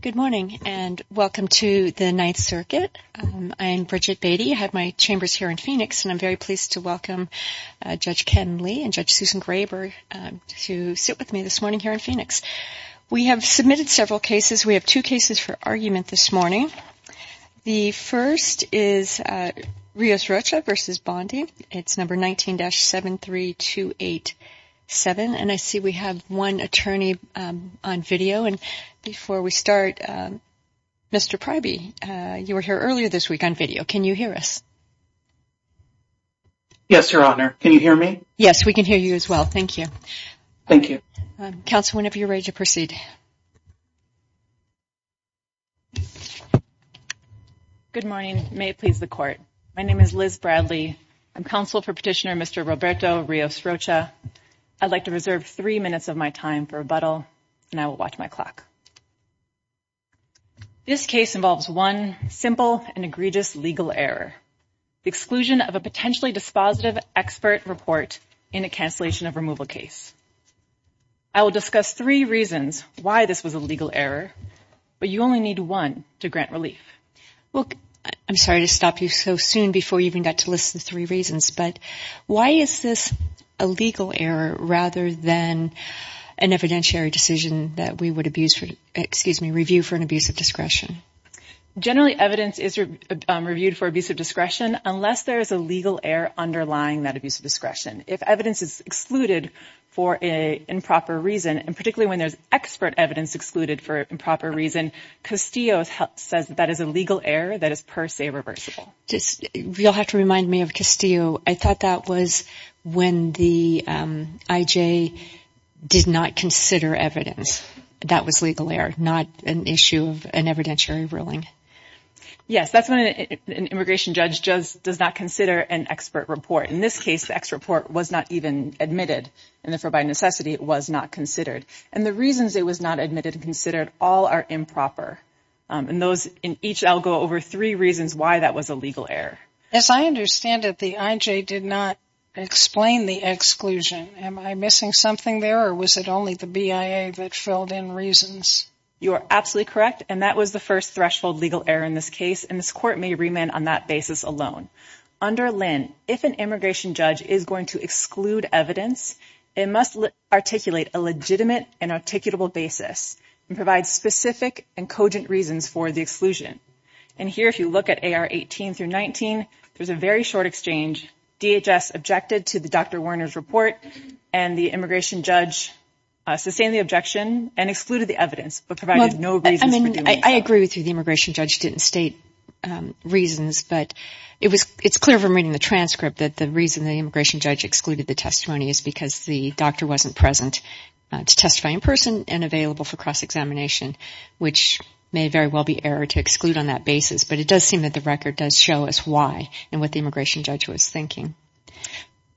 Good morning and welcome to the Ninth Circuit. I'm Bridget Beatty. I have my chambers here in Phoenix and I'm very pleased to welcome Judge Ken Lee and Judge Susan Graber to sit with me this morning here in Phoenix. We have submitted several cases. We have two cases for argument this morning. The first is Rios-Rocha v. Bondi. It's number 19-73287. I see we have one attorney on video. Before we start, Mr. Pryby, you were here earlier this week on video. Can you hear us? Yes, Your Honor. Can you hear me? Yes, we can hear you as well. Thank you. Thank you. Counsel, whenever you're ready to proceed. Good morning. May it please the Court. My name is Liz Bradley. I'm counsel for Petitioner Mr. Roberto Rios-Rocha. I'd like to reserve three minutes of my time for rebuttal and I will watch my clock. This case involves one simple and egregious legal error, the exclusion of a potentially dispositive expert report in a cancellation of removal case. I will discuss three reasons why this was a legal error, but you only need one to grant relief. I'm sorry to stop you so soon before you even got to list the three reasons, but why is this a legal error rather than an evidentiary decision that we would review for an abuse of discretion? You'll have to remind me of Castillo. I thought that was when the IJ did not consider evidence. That was legal error, not an issue of an evidentiary ruling. Yes, that's when an immigration judge does not consider an expert report. In this case, the expert report was not even admitted and therefore, by necessity, it was not considered. And the reasons it was not admitted and considered all are improper. In each, I'll go over three reasons why that was a legal error. As I understand it, the IJ did not explain the exclusion. Am I missing something there or was it only the BIA that filled in reasons? You are absolutely correct, and that was the first threshold legal error in this case, and this court may remand on that basis alone. Under Lynn, if an immigration judge is going to exclude evidence, it must articulate a legitimate and articulable basis and provide specific and cogent reasons for the exclusion. And here, if you look at AR 18 through 19, there's a very short exchange. DHS objected to the Dr. Warner's report and the immigration judge sustained the objection and excluded the evidence but provided no reasons for doing so. It may very well be error to exclude on that basis, but it does seem that the record does show us why and what the immigration judge was thinking.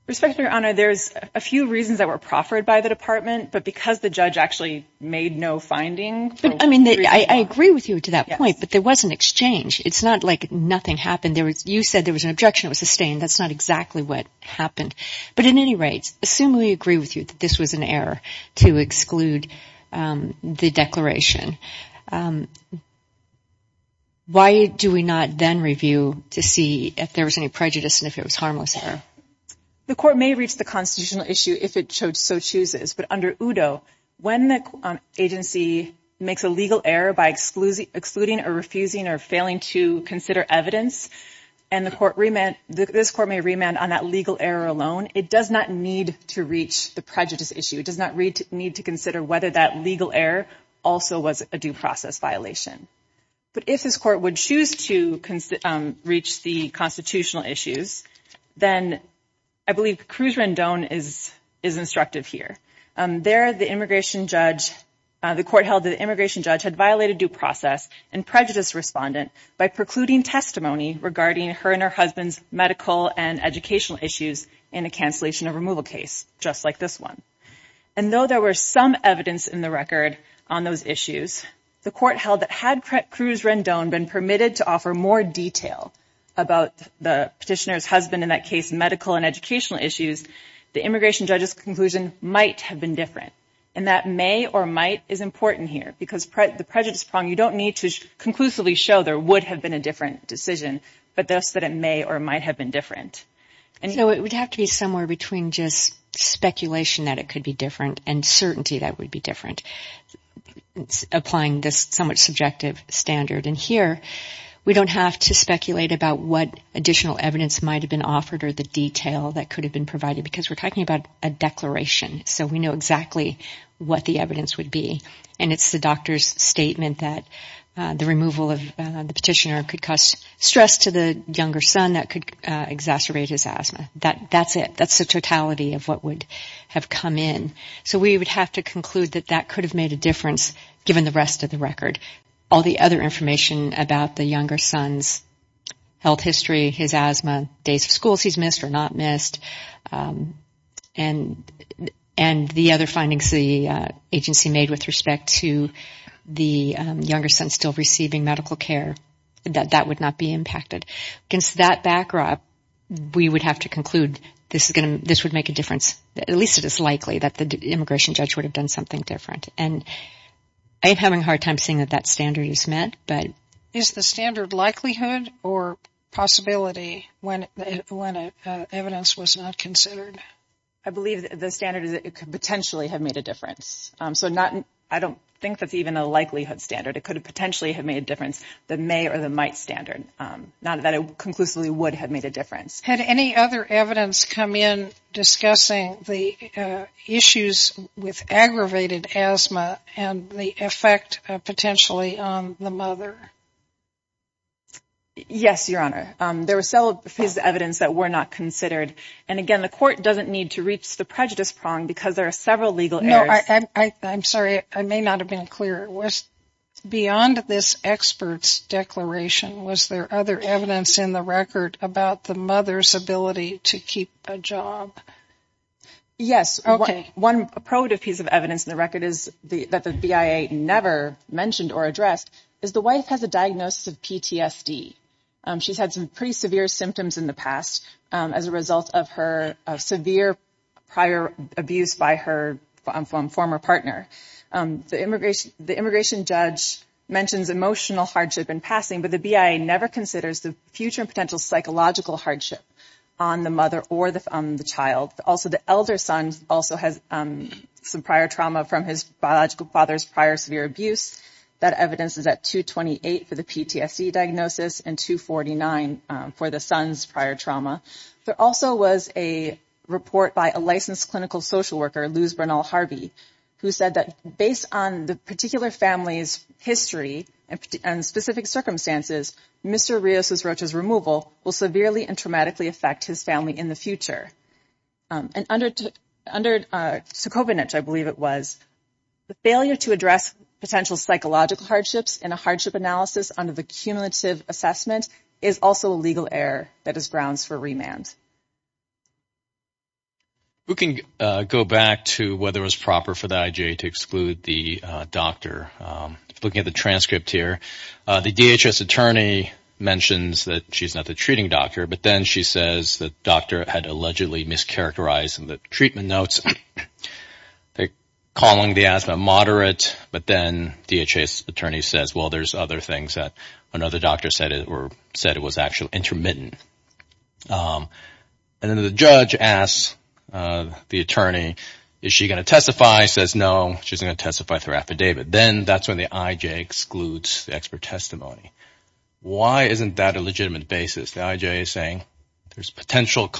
Respectfully, Your Honor, there's a few reasons that were proffered by the department, but because the judge actually made no finding. I agree with you to that point, but there was an exchange. It's not like nothing happened. You said there was an objection that was sustained. That's not exactly what happened. But in any rate, assume we agree with you that this was an error to exclude the declaration. Why do we not then review to see if there was any prejudice and if it was harmless error? The court may reach the constitutional issue if it so chooses, but under UDO, when the agency makes a legal error by excluding or refusing or failing to consider evidence and this court may remand on that legal error alone, it does not need to reach the prejudice issue. It does not need to consider whether that legal error also was a due process violation. But if this court would choose to reach the constitutional issues, then I believe Cruz Rendon is instructive here. There, the immigration judge, the court held that the immigration judge had violated due process and prejudice respondent by precluding testimony regarding her and her husband's medical and educational issues in a cancellation of removal case, just like this one. And though there were some evidence in the record on those issues, the court held that had Cruz Rendon been permitted to offer more detail about the petitioner's husband in that case, medical and educational issues, the immigration judge's conclusion might have been different. And that may or might is important here because the prejudice prong, you don't need to conclusively show there would have been a different decision, but thus that it may or might have been different. And so it would have to be somewhere between just speculation that it could be different and certainty that would be different. Applying this somewhat subjective standard in here, we don't have to speculate about what additional evidence might have been offered or the detail that could have been provided because we're talking about a declaration. So we know exactly what the evidence would be. And it's the doctor's statement that the removal of the petitioner could cause stress to the younger son that could exacerbate his asthma. That's it. That's the totality of what would have come in. So we would have to conclude that that could have made a difference given the rest of the record. All the other information about the younger son's health history, his asthma, days of school he's missed or not missed, and the other findings the agency made with respect to the younger son still receiving medical care, that that would not be impacted. Against that backdrop, we would have to conclude this would make a difference. At least it is likely that the immigration judge would have done something different. I'm having a hard time seeing that that standard is met. Is the standard likelihood or possibility when evidence was not considered? I believe the standard is that it could potentially have made a difference. I don't think that's even a likelihood standard. It could potentially have made a difference. The may or the might standard. Not that it conclusively would have made a difference. Had any other evidence come in discussing the issues with aggravated asthma and the effect potentially on the mother? Yes, Your Honor. There was evidence that were not considered. And again, the court doesn't need to reach the prejudice prong because there are several legal errors. I'm sorry. I may not have been clear. Beyond this expert's declaration, was there other evidence in the record about the mother's ability to keep a job? Yes. One piece of evidence in the record that the BIA never mentioned or addressed is the wife has a diagnosis of PTSD. She's had some pretty severe symptoms in the past as a result of her severe prior abuse by her former partner. The immigration judge mentions emotional hardship in passing, but the BIA never considers the future and potential psychological hardship on the mother or the child. Also, the elder son also has some prior trauma from his biological father's prior severe abuse. That evidence is at 228 for the PTSD diagnosis and 249 for the son's prior trauma. There also was a report by a licensed clinical social worker, Luz Bernal-Harvey, who said that based on the particular family's history and specific circumstances, Mr. Rios's Rocha's removal will severely and traumatically affect his family in the future. And under Sokovich, I believe it was, the failure to address potential psychological hardships in a hardship analysis under the cumulative assessment is also a legal error that is grounds for remand. We can go back to whether it was proper for the IJA to exclude the doctor. Looking at the transcript here, the DHS attorney mentions that she's not the treating doctor, but then she says the doctor had allegedly mischaracterized the treatment notes, calling the asthma moderate. But then DHS attorney says, well, there's other things that another doctor said it was actually intermittent. And then the judge asks the attorney, is she going to testify? Says no, she's going to testify through affidavit. Then that's when the IJA excludes the expert testimony. Why isn't that a legitimate basis? The IJA is saying there's potential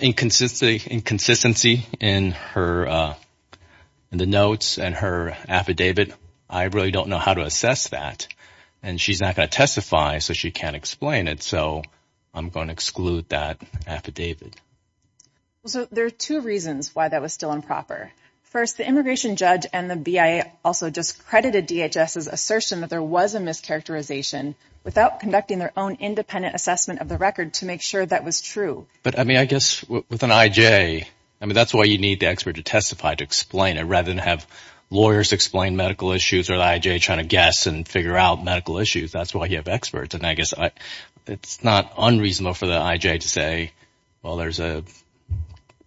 inconsistency in the notes and her affidavit. I really don't know how to assess that. And she's not going to testify, so she can't explain it. So I'm going to exclude that affidavit. So there are two reasons why that was still improper. First, the immigration judge and the BIA also discredited DHS's assertion that there was a mischaracterization without conducting their own independent assessment of the record to make sure that was true. But, I mean, I guess with an IJA, I mean, that's why you need the expert to testify, to explain it, rather than have lawyers explain medical issues or the IJA trying to guess and figure out medical issues. That's why you have experts. And I guess it's not unreasonable for the IJA to say, well, there's a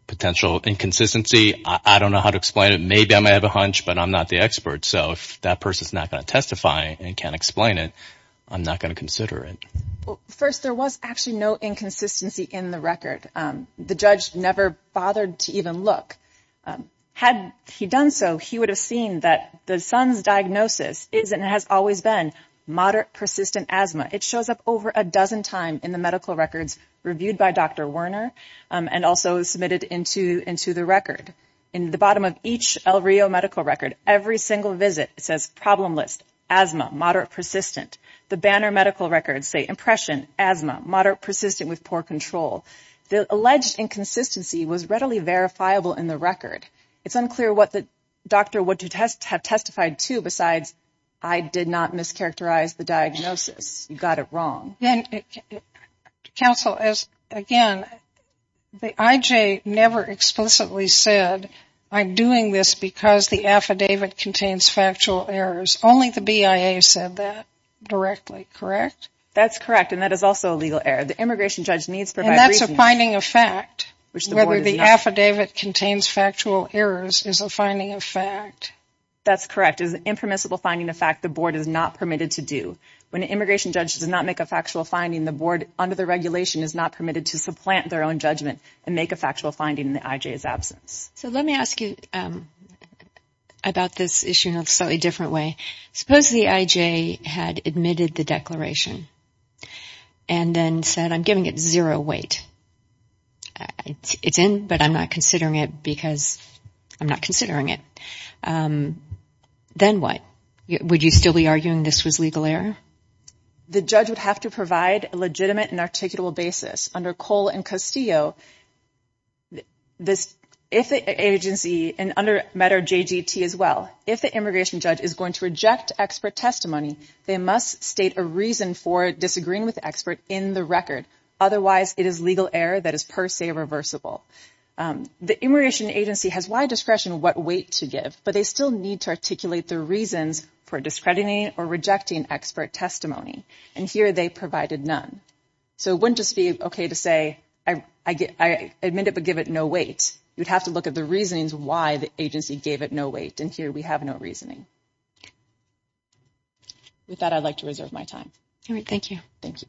potential inconsistency. I don't know how to explain it. Maybe I might have a hunch, but I'm not the expert. So if that person is not going to testify and can't explain it, I'm not going to consider it. First, there was actually no inconsistency in the record. The judge never bothered to even look. Had he done so, he would have seen that the son's diagnosis is and has always been moderate persistent asthma. It shows up over a dozen times in the medical records reviewed by Dr. Werner and also submitted into the record. In the bottom of each El Rio medical record, every single visit, it says problem list, asthma, moderate persistent. The Banner medical records say impression, asthma, moderate persistent with poor control. The alleged inconsistency was readily verifiable in the record. It's unclear what the doctor would have testified to besides, I did not mischaracterize the diagnosis. You got it wrong. Counsel, again, the IJ never explicitly said I'm doing this because the affidavit contains factual errors. Only the BIA said that directly, correct? That's correct. And that is also a legal error. The immigration judge needs to provide reason. And that's a finding of fact. Whether the affidavit contains factual errors is a finding of fact. That's correct. It's an impermissible finding of fact the board is not permitted to do. When an immigration judge does not make a factual finding, the board under the regulation is not permitted to supplant their own judgment and make a factual finding in the IJ's absence. So let me ask you about this issue in a slightly different way. Suppose the IJ had admitted the declaration and then said I'm giving it zero weight. It's in, but I'm not considering it because I'm not considering it. Then what? Would you still be arguing this was legal error? The judge would have to provide a legitimate and articulable basis. Under Cole and Castillo, if the agency, and under MEDR-JGT as well, if the immigration judge is going to reject expert testimony, they must state a reason for disagreeing with the expert in the record. Otherwise, it is legal error that is per se reversible. The immigration agency has wide discretion what weight to give, but they still need to articulate the reasons for discrediting or rejecting expert testimony. And here they provided none. So it wouldn't just be okay to say I admit it but give it no weight. You'd have to look at the reasonings why the agency gave it no weight. And here we have no reasoning. With that, I'd like to reserve my time. All right. Thank you. Thank you.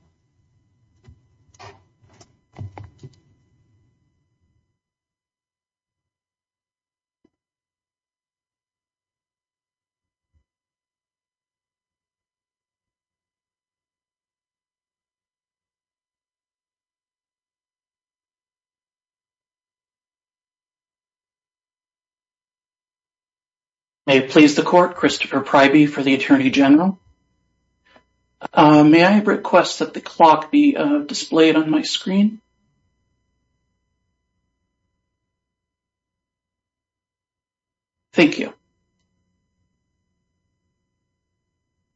May it please the court, Christopher Pryby for the Attorney General. May I request that the clock be displayed on my screen? Thank you.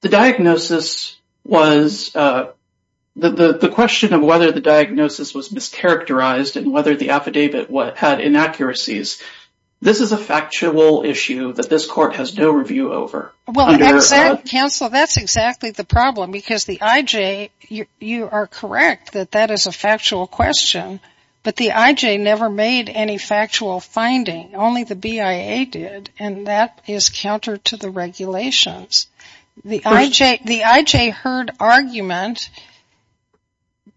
The diagnosis was, the question of whether the diagnosis was mischaracterized and whether the affidavit had inaccuracies, this is a factual issue that this court has no review over. Well, counsel, that's exactly the problem because the IJ, you are correct that that is a factual question. But the IJ never made any factual finding. Only the BIA did, and that is counter to the regulations. The IJ heard argument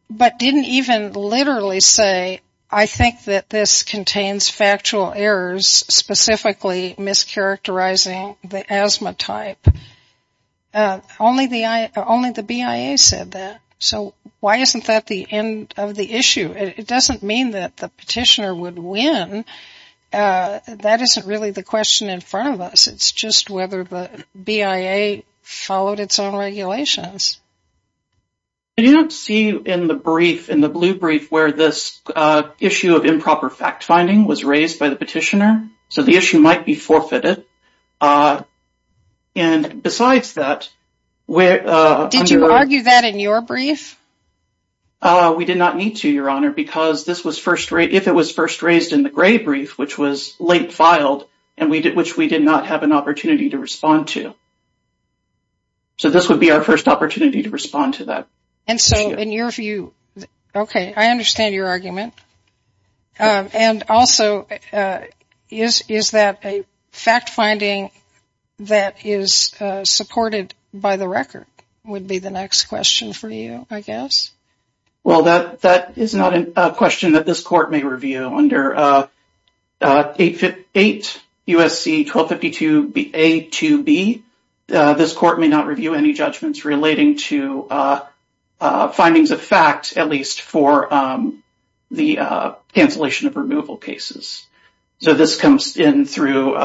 but didn't even literally say I think that this contains factual errors, specifically mischaracterizing the asthma type. Only the BIA said that. So why isn't that the end of the issue? It doesn't mean that the petitioner would win. That isn't really the question in front of us. It's just whether the BIA followed its own regulations. I do not see in the brief, in the blue brief, where this issue of improper fact-finding was raised by the petitioner. So the issue might be forfeited. And besides that, Did you argue that in your brief? We did not need to, Your Honor, because if it was first raised in the gray brief, which was late filed and which we did not have an opportunity to respond to. So this would be our first opportunity to respond to that. And so in your view, OK, I understand your argument. And also, is that a fact-finding that is supported by the record, would be the next question for you, I guess. Well, that is not a question that this court may review. Under 8 U.S.C. 1252a-2b, this court may not review any judgments relating to findings of fact, at least for the cancellation of removal cases. So this comes in through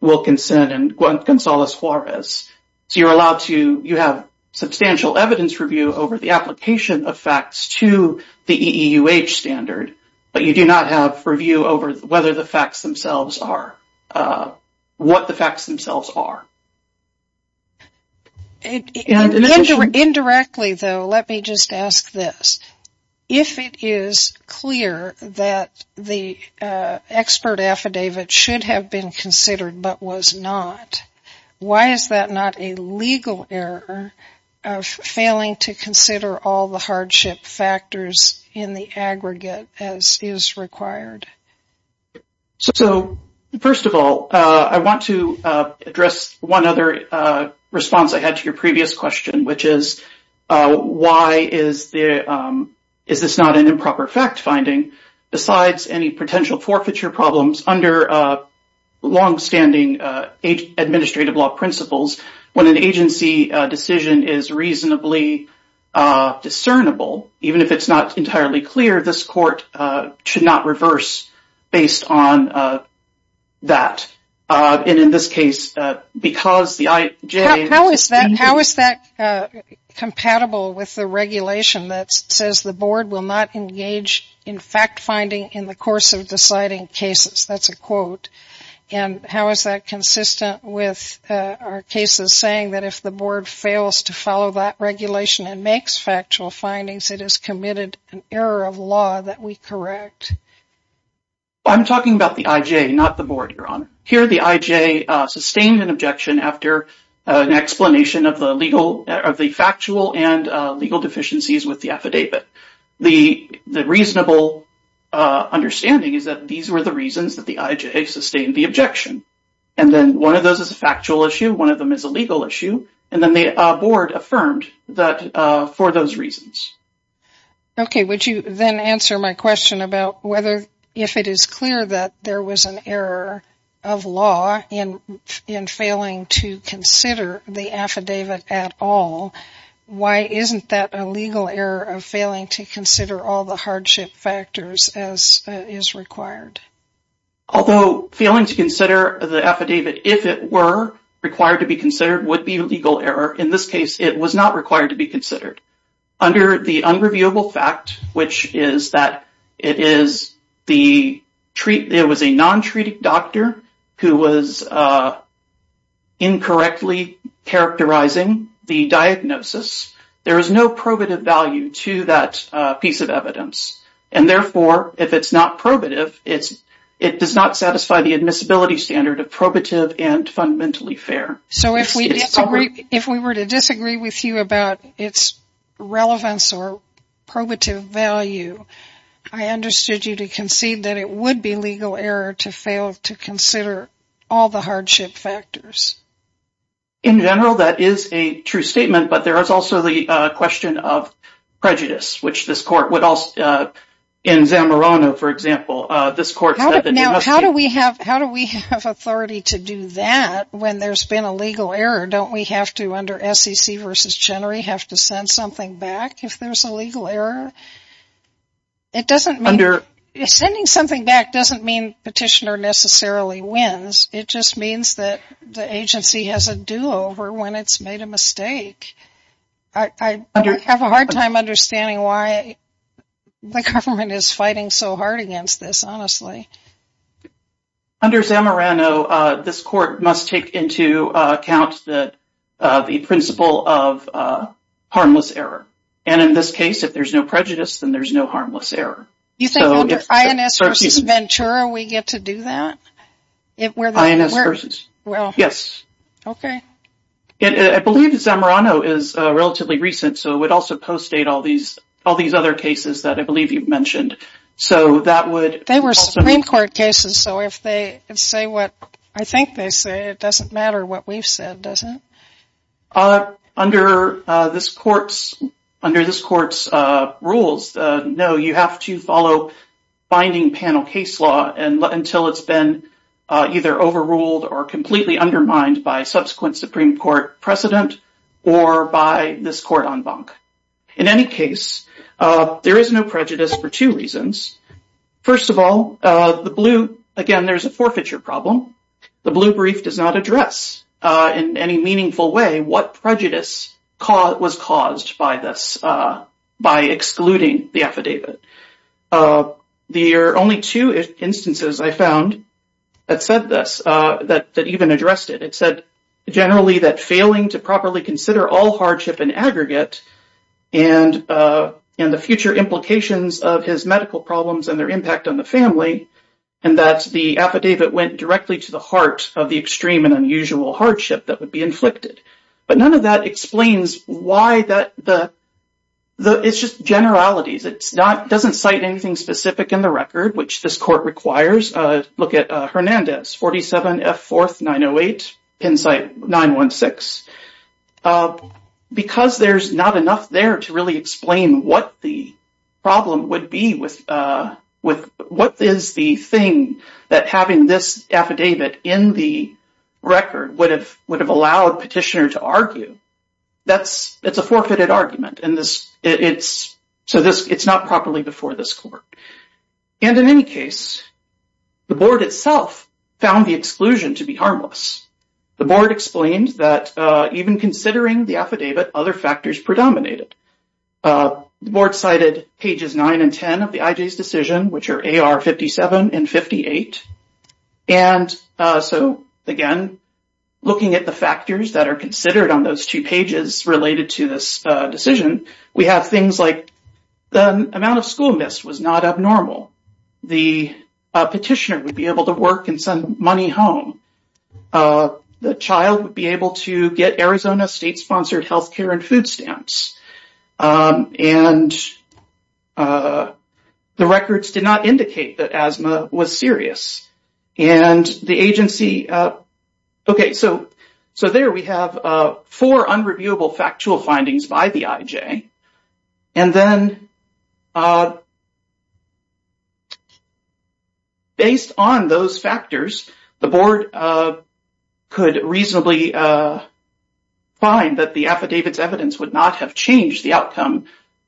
Wilkinson and Gonzalez-Juarez. So you're allowed to, you have substantial evidence review over the application of facts to the EEUH standard, but you do not have review over whether the facts themselves are, what the facts themselves are. Indirectly, though, let me just ask this. If it is clear that the expert affidavit should have been considered but was not, why is that not a legal error of failing to consider all the hardship factors in the aggregate as is required? So, first of all, I want to address one other response I had to your previous question, which is, why is this not an improper fact-finding, besides any potential forfeiture problems under long-standing administrative law principles, when an agency decision is reasonably discernible, even if it's not entirely clear, this court should not reverse based on that. And in this case, because the IJ… How is that compatible with the regulation that says the board will not engage in fact-finding in the course of deciding cases? That's a quote. And how is that consistent with our cases saying that if the board fails to follow that regulation and makes factual findings, it has committed an error of law that we correct? I'm talking about the IJ, not the board, Your Honor. Here the IJ sustained an objection after an explanation of the factual and legal deficiencies with the affidavit. The reasonable understanding is that these were the reasons that the IJ sustained the objection. And then one of those is a factual issue, one of them is a legal issue, and then the board affirmed for those reasons. Okay, would you then answer my question about whether if it is clear that there was an error of law in failing to consider the affidavit at all, why isn't that a legal error of failing to consider all the hardship factors as is required? Although failing to consider the affidavit, if it were required to be considered, would be a legal error, in this case it was not required to be considered. Under the unreviewable fact, which is that it was a non-treated doctor who was incorrectly characterizing the diagnosis, there is no probative value to that piece of evidence. And therefore, if it's not probative, it does not satisfy the admissibility standard of probative and fundamentally fair. So if we were to disagree with you about its relevance or probative value, I understood you to concede that it would be legal error to fail to consider all the hardship factors. In general, that is a true statement, but there is also the question of prejudice, which this court would also, in Zamorano for example, Now how do we have authority to do that when there's been a legal error? Don't we have to, under SEC v. Chenery, have to send something back if there's a legal error? Sending something back doesn't mean the petitioner necessarily wins, it just means that the agency has a do-over when it's made a mistake. I have a hard time understanding why the government is fighting so hard against this, honestly. Under Zamorano, this court must take into account the principle of harmless error. And in this case, if there's no prejudice, then there's no harmless error. You think under INS v. Ventura we get to do that? INS v. Ventura, yes. I believe Zamorano is relatively recent, so it would also post-date all these other cases that I believe you mentioned. They were Supreme Court cases, so if they say what I think they say, it doesn't matter what we've said, does it? Under this court's rules, no, you have to follow binding panel case law until it's been either overruled or completely undermined by subsequent Supreme Court precedent or by this court en banc. In any case, there is no prejudice for two reasons. First of all, again, there's a forfeiture problem. The blue brief does not address in any meaningful way what prejudice was caused by this, by excluding the affidavit. There are only two instances I found that said this, that even addressed it. It said generally that failing to properly consider all hardship in aggregate and the future implications of his medical problems and their impact on the family and that the affidavit went directly to the heart of the extreme and unusual hardship that would be inflicted. But none of that explains why that—it's just generalities. It doesn't cite anything specific in the record, which this court requires. Look at Hernandez, 47 F. 4th, 908, Penn site, 916. Because there's not enough there to really explain what the problem would be with— what is the thing that having this affidavit in the record would have allowed petitioner to argue, that's a forfeited argument, and so it's not properly before this court. And in any case, the board itself found the exclusion to be harmless. The board explained that even considering the affidavit, other factors predominated. The board cited pages 9 and 10 of the IJ's decision, which are AR 57 and 58. And so, again, looking at the factors that are considered on those two pages related to this decision, we have things like the amount of school missed was not abnormal. The petitioner would be able to work and send money home. The child would be able to get Arizona state-sponsored health care and food stamps. And the records did not indicate that asthma was serious. And the agency—OK, so there we have four unreviewable factual findings by the IJ. And then, based on those factors, the board could reasonably find that the affidavit's evidence would not have changed the outcome.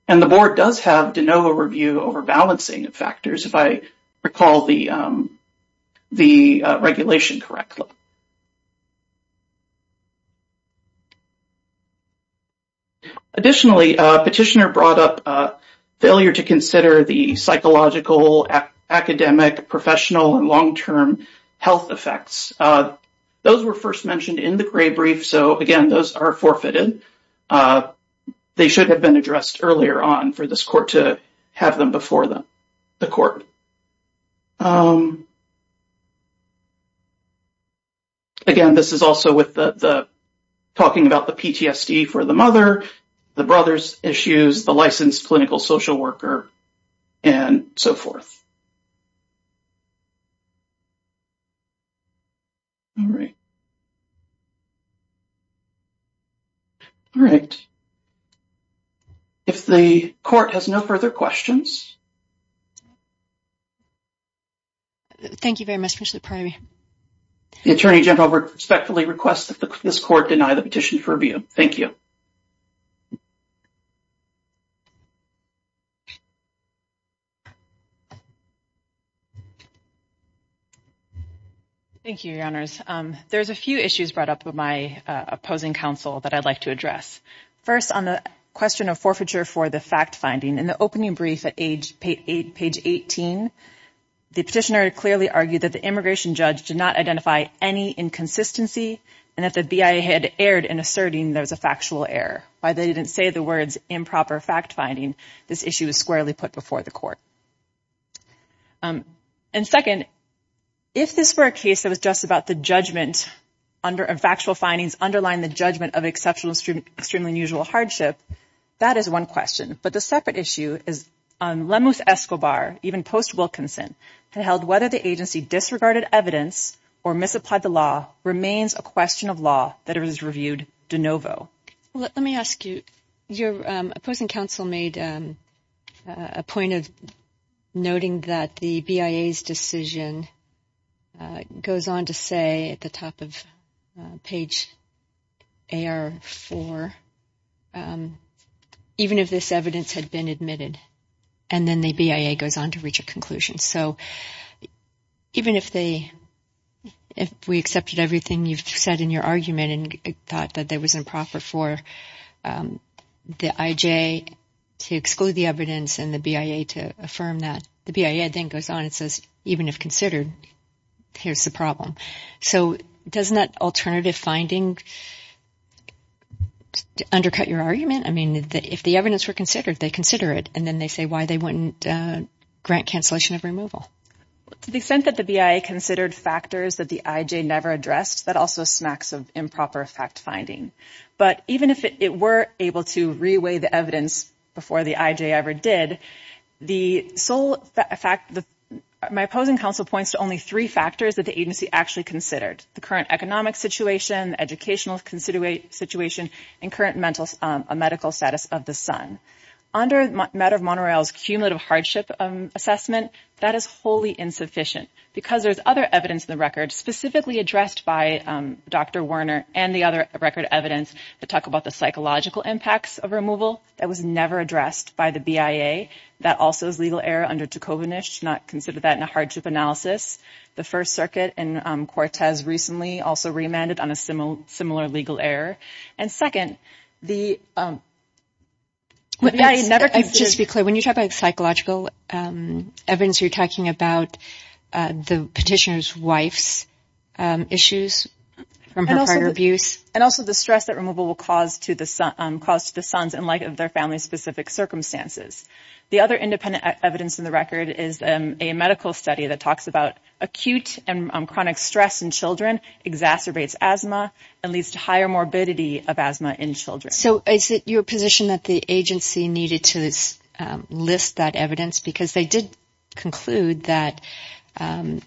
And the board does have de novo review over balancing factors, if I recall the regulation correctly. Additionally, petitioner brought up failure to consider the psychological, academic, professional, and long-term health effects. Those were first mentioned in the gray brief. So, again, those are forfeited. They should have been addressed earlier on for this court to have them before the court. And again, this is also with the—talking about the PTSD for the mother, the brother's issues, the licensed clinical social worker, and so forth. All right. All right. If the court has no further questions. Thank you very much, Commissioner Pratt. The Attorney General respectfully requests that this court deny the petition for review. Thank you. Thank you, Your Honors. There's a few issues brought up with my opposing counsel that I'd like to address. First, on the question of forfeiture for the fact-finding, in the opening brief at page 18, the petitioner clearly argued that the immigration judge did not identify any inconsistency and that the BIA had erred in asserting there was a factual error. Why they didn't say the words improper fact-finding, this issue was squarely put before the court. And second, if this were a case that was just about the judgment and factual findings underlying the judgment of exceptional and extremely unusual hardship, that is one question. But the separate issue is Lemus Escobar, even post-Wilkinson, had held whether the agency disregarded evidence or misapplied the law remains a question of law that is reviewed de novo. Let me ask you, your opposing counsel made a point of noting that the BIA's decision goes on to say at the top of page AR4, even if this evidence had been admitted, and then the BIA goes on to reach a conclusion. So even if we accepted everything you've said in your argument and thought that there was improper for the IJ to exclude the evidence and the BIA to affirm that, the BIA then goes on and says, even if considered, here's the problem. So doesn't that alternative finding undercut your argument? I mean, if the evidence were considered, they consider it, and then they say why they wouldn't grant cancellation of removal. To the extent that the BIA considered factors that the IJ never addressed, that also smacks of improper fact-finding. But even if it were able to re-weigh the evidence before the IJ ever did, my opposing counsel points to only three factors that the agency actually considered, the current economic situation, educational situation, and current medical status of the son. Under the matter of Monterell's cumulative hardship assessment, that is wholly insufficient because there's other evidence in the record specifically addressed by Dr. Werner and the other record evidence that talk about the psychological impacts of removal that was never addressed by the BIA. That also is legal error under Tukovanich to not consider that in a hardship analysis. The First Circuit and Cortez recently also remanded on a similar legal error. Just to be clear, when you talk about psychological evidence, you're talking about the petitioner's wife's issues from her prior abuse? And also the stress that removal will cause to the sons in light of their family's specific circumstances. The other independent evidence in the record is a medical study that talks about acute and chronic stress in children, exacerbates asthma, and leads to higher morbidity of asthma in children. So is it your position that the agency needed to list that evidence? Because they did conclude that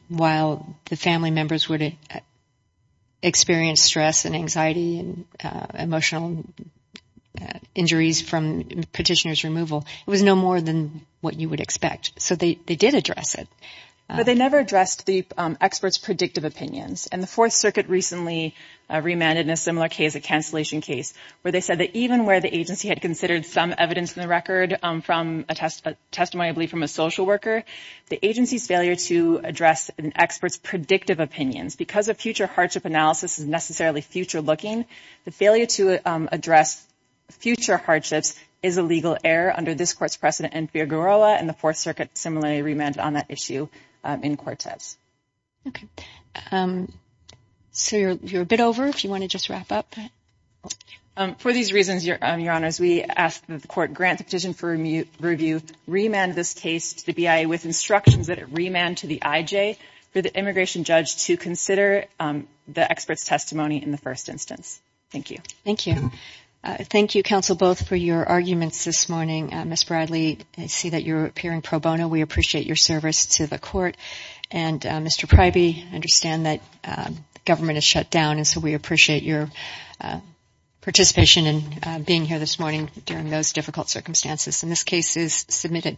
while the family members would experience stress and anxiety and emotional injuries from petitioner's removal, it was no more than what you would expect. So they did address it. But they never addressed the experts' predictive opinions. And the Fourth Circuit recently remanded in a similar case, a cancellation case, where they said that even where the agency had considered some evidence in the record from a testimony, I believe, from a social worker, the agency's failure to address an expert's predictive opinions. Because a future hardship analysis is necessarily future-looking, the failure to address future hardships is a legal error under this Court's precedent in Figueroa, and the Fourth Circuit similarly remanded on that issue in Cortez. Okay. So you're a bit over, if you want to just wrap up. For these reasons, Your Honors, we ask that the Court grant the petition for review, remand this case to the BIA with instructions that it remand to the IJ for the immigration judge to consider the expert's testimony in the first instance. Thank you. Thank you. Thank you, Counsel Both, for your arguments this morning. Ms. Bradley, I see that you're appearing pro bono. We appreciate your service to the Court. And, Mr. Pryby, I understand that the government is shut down, and so we appreciate your participation in being here this morning during those difficult circumstances. And this case is submitted.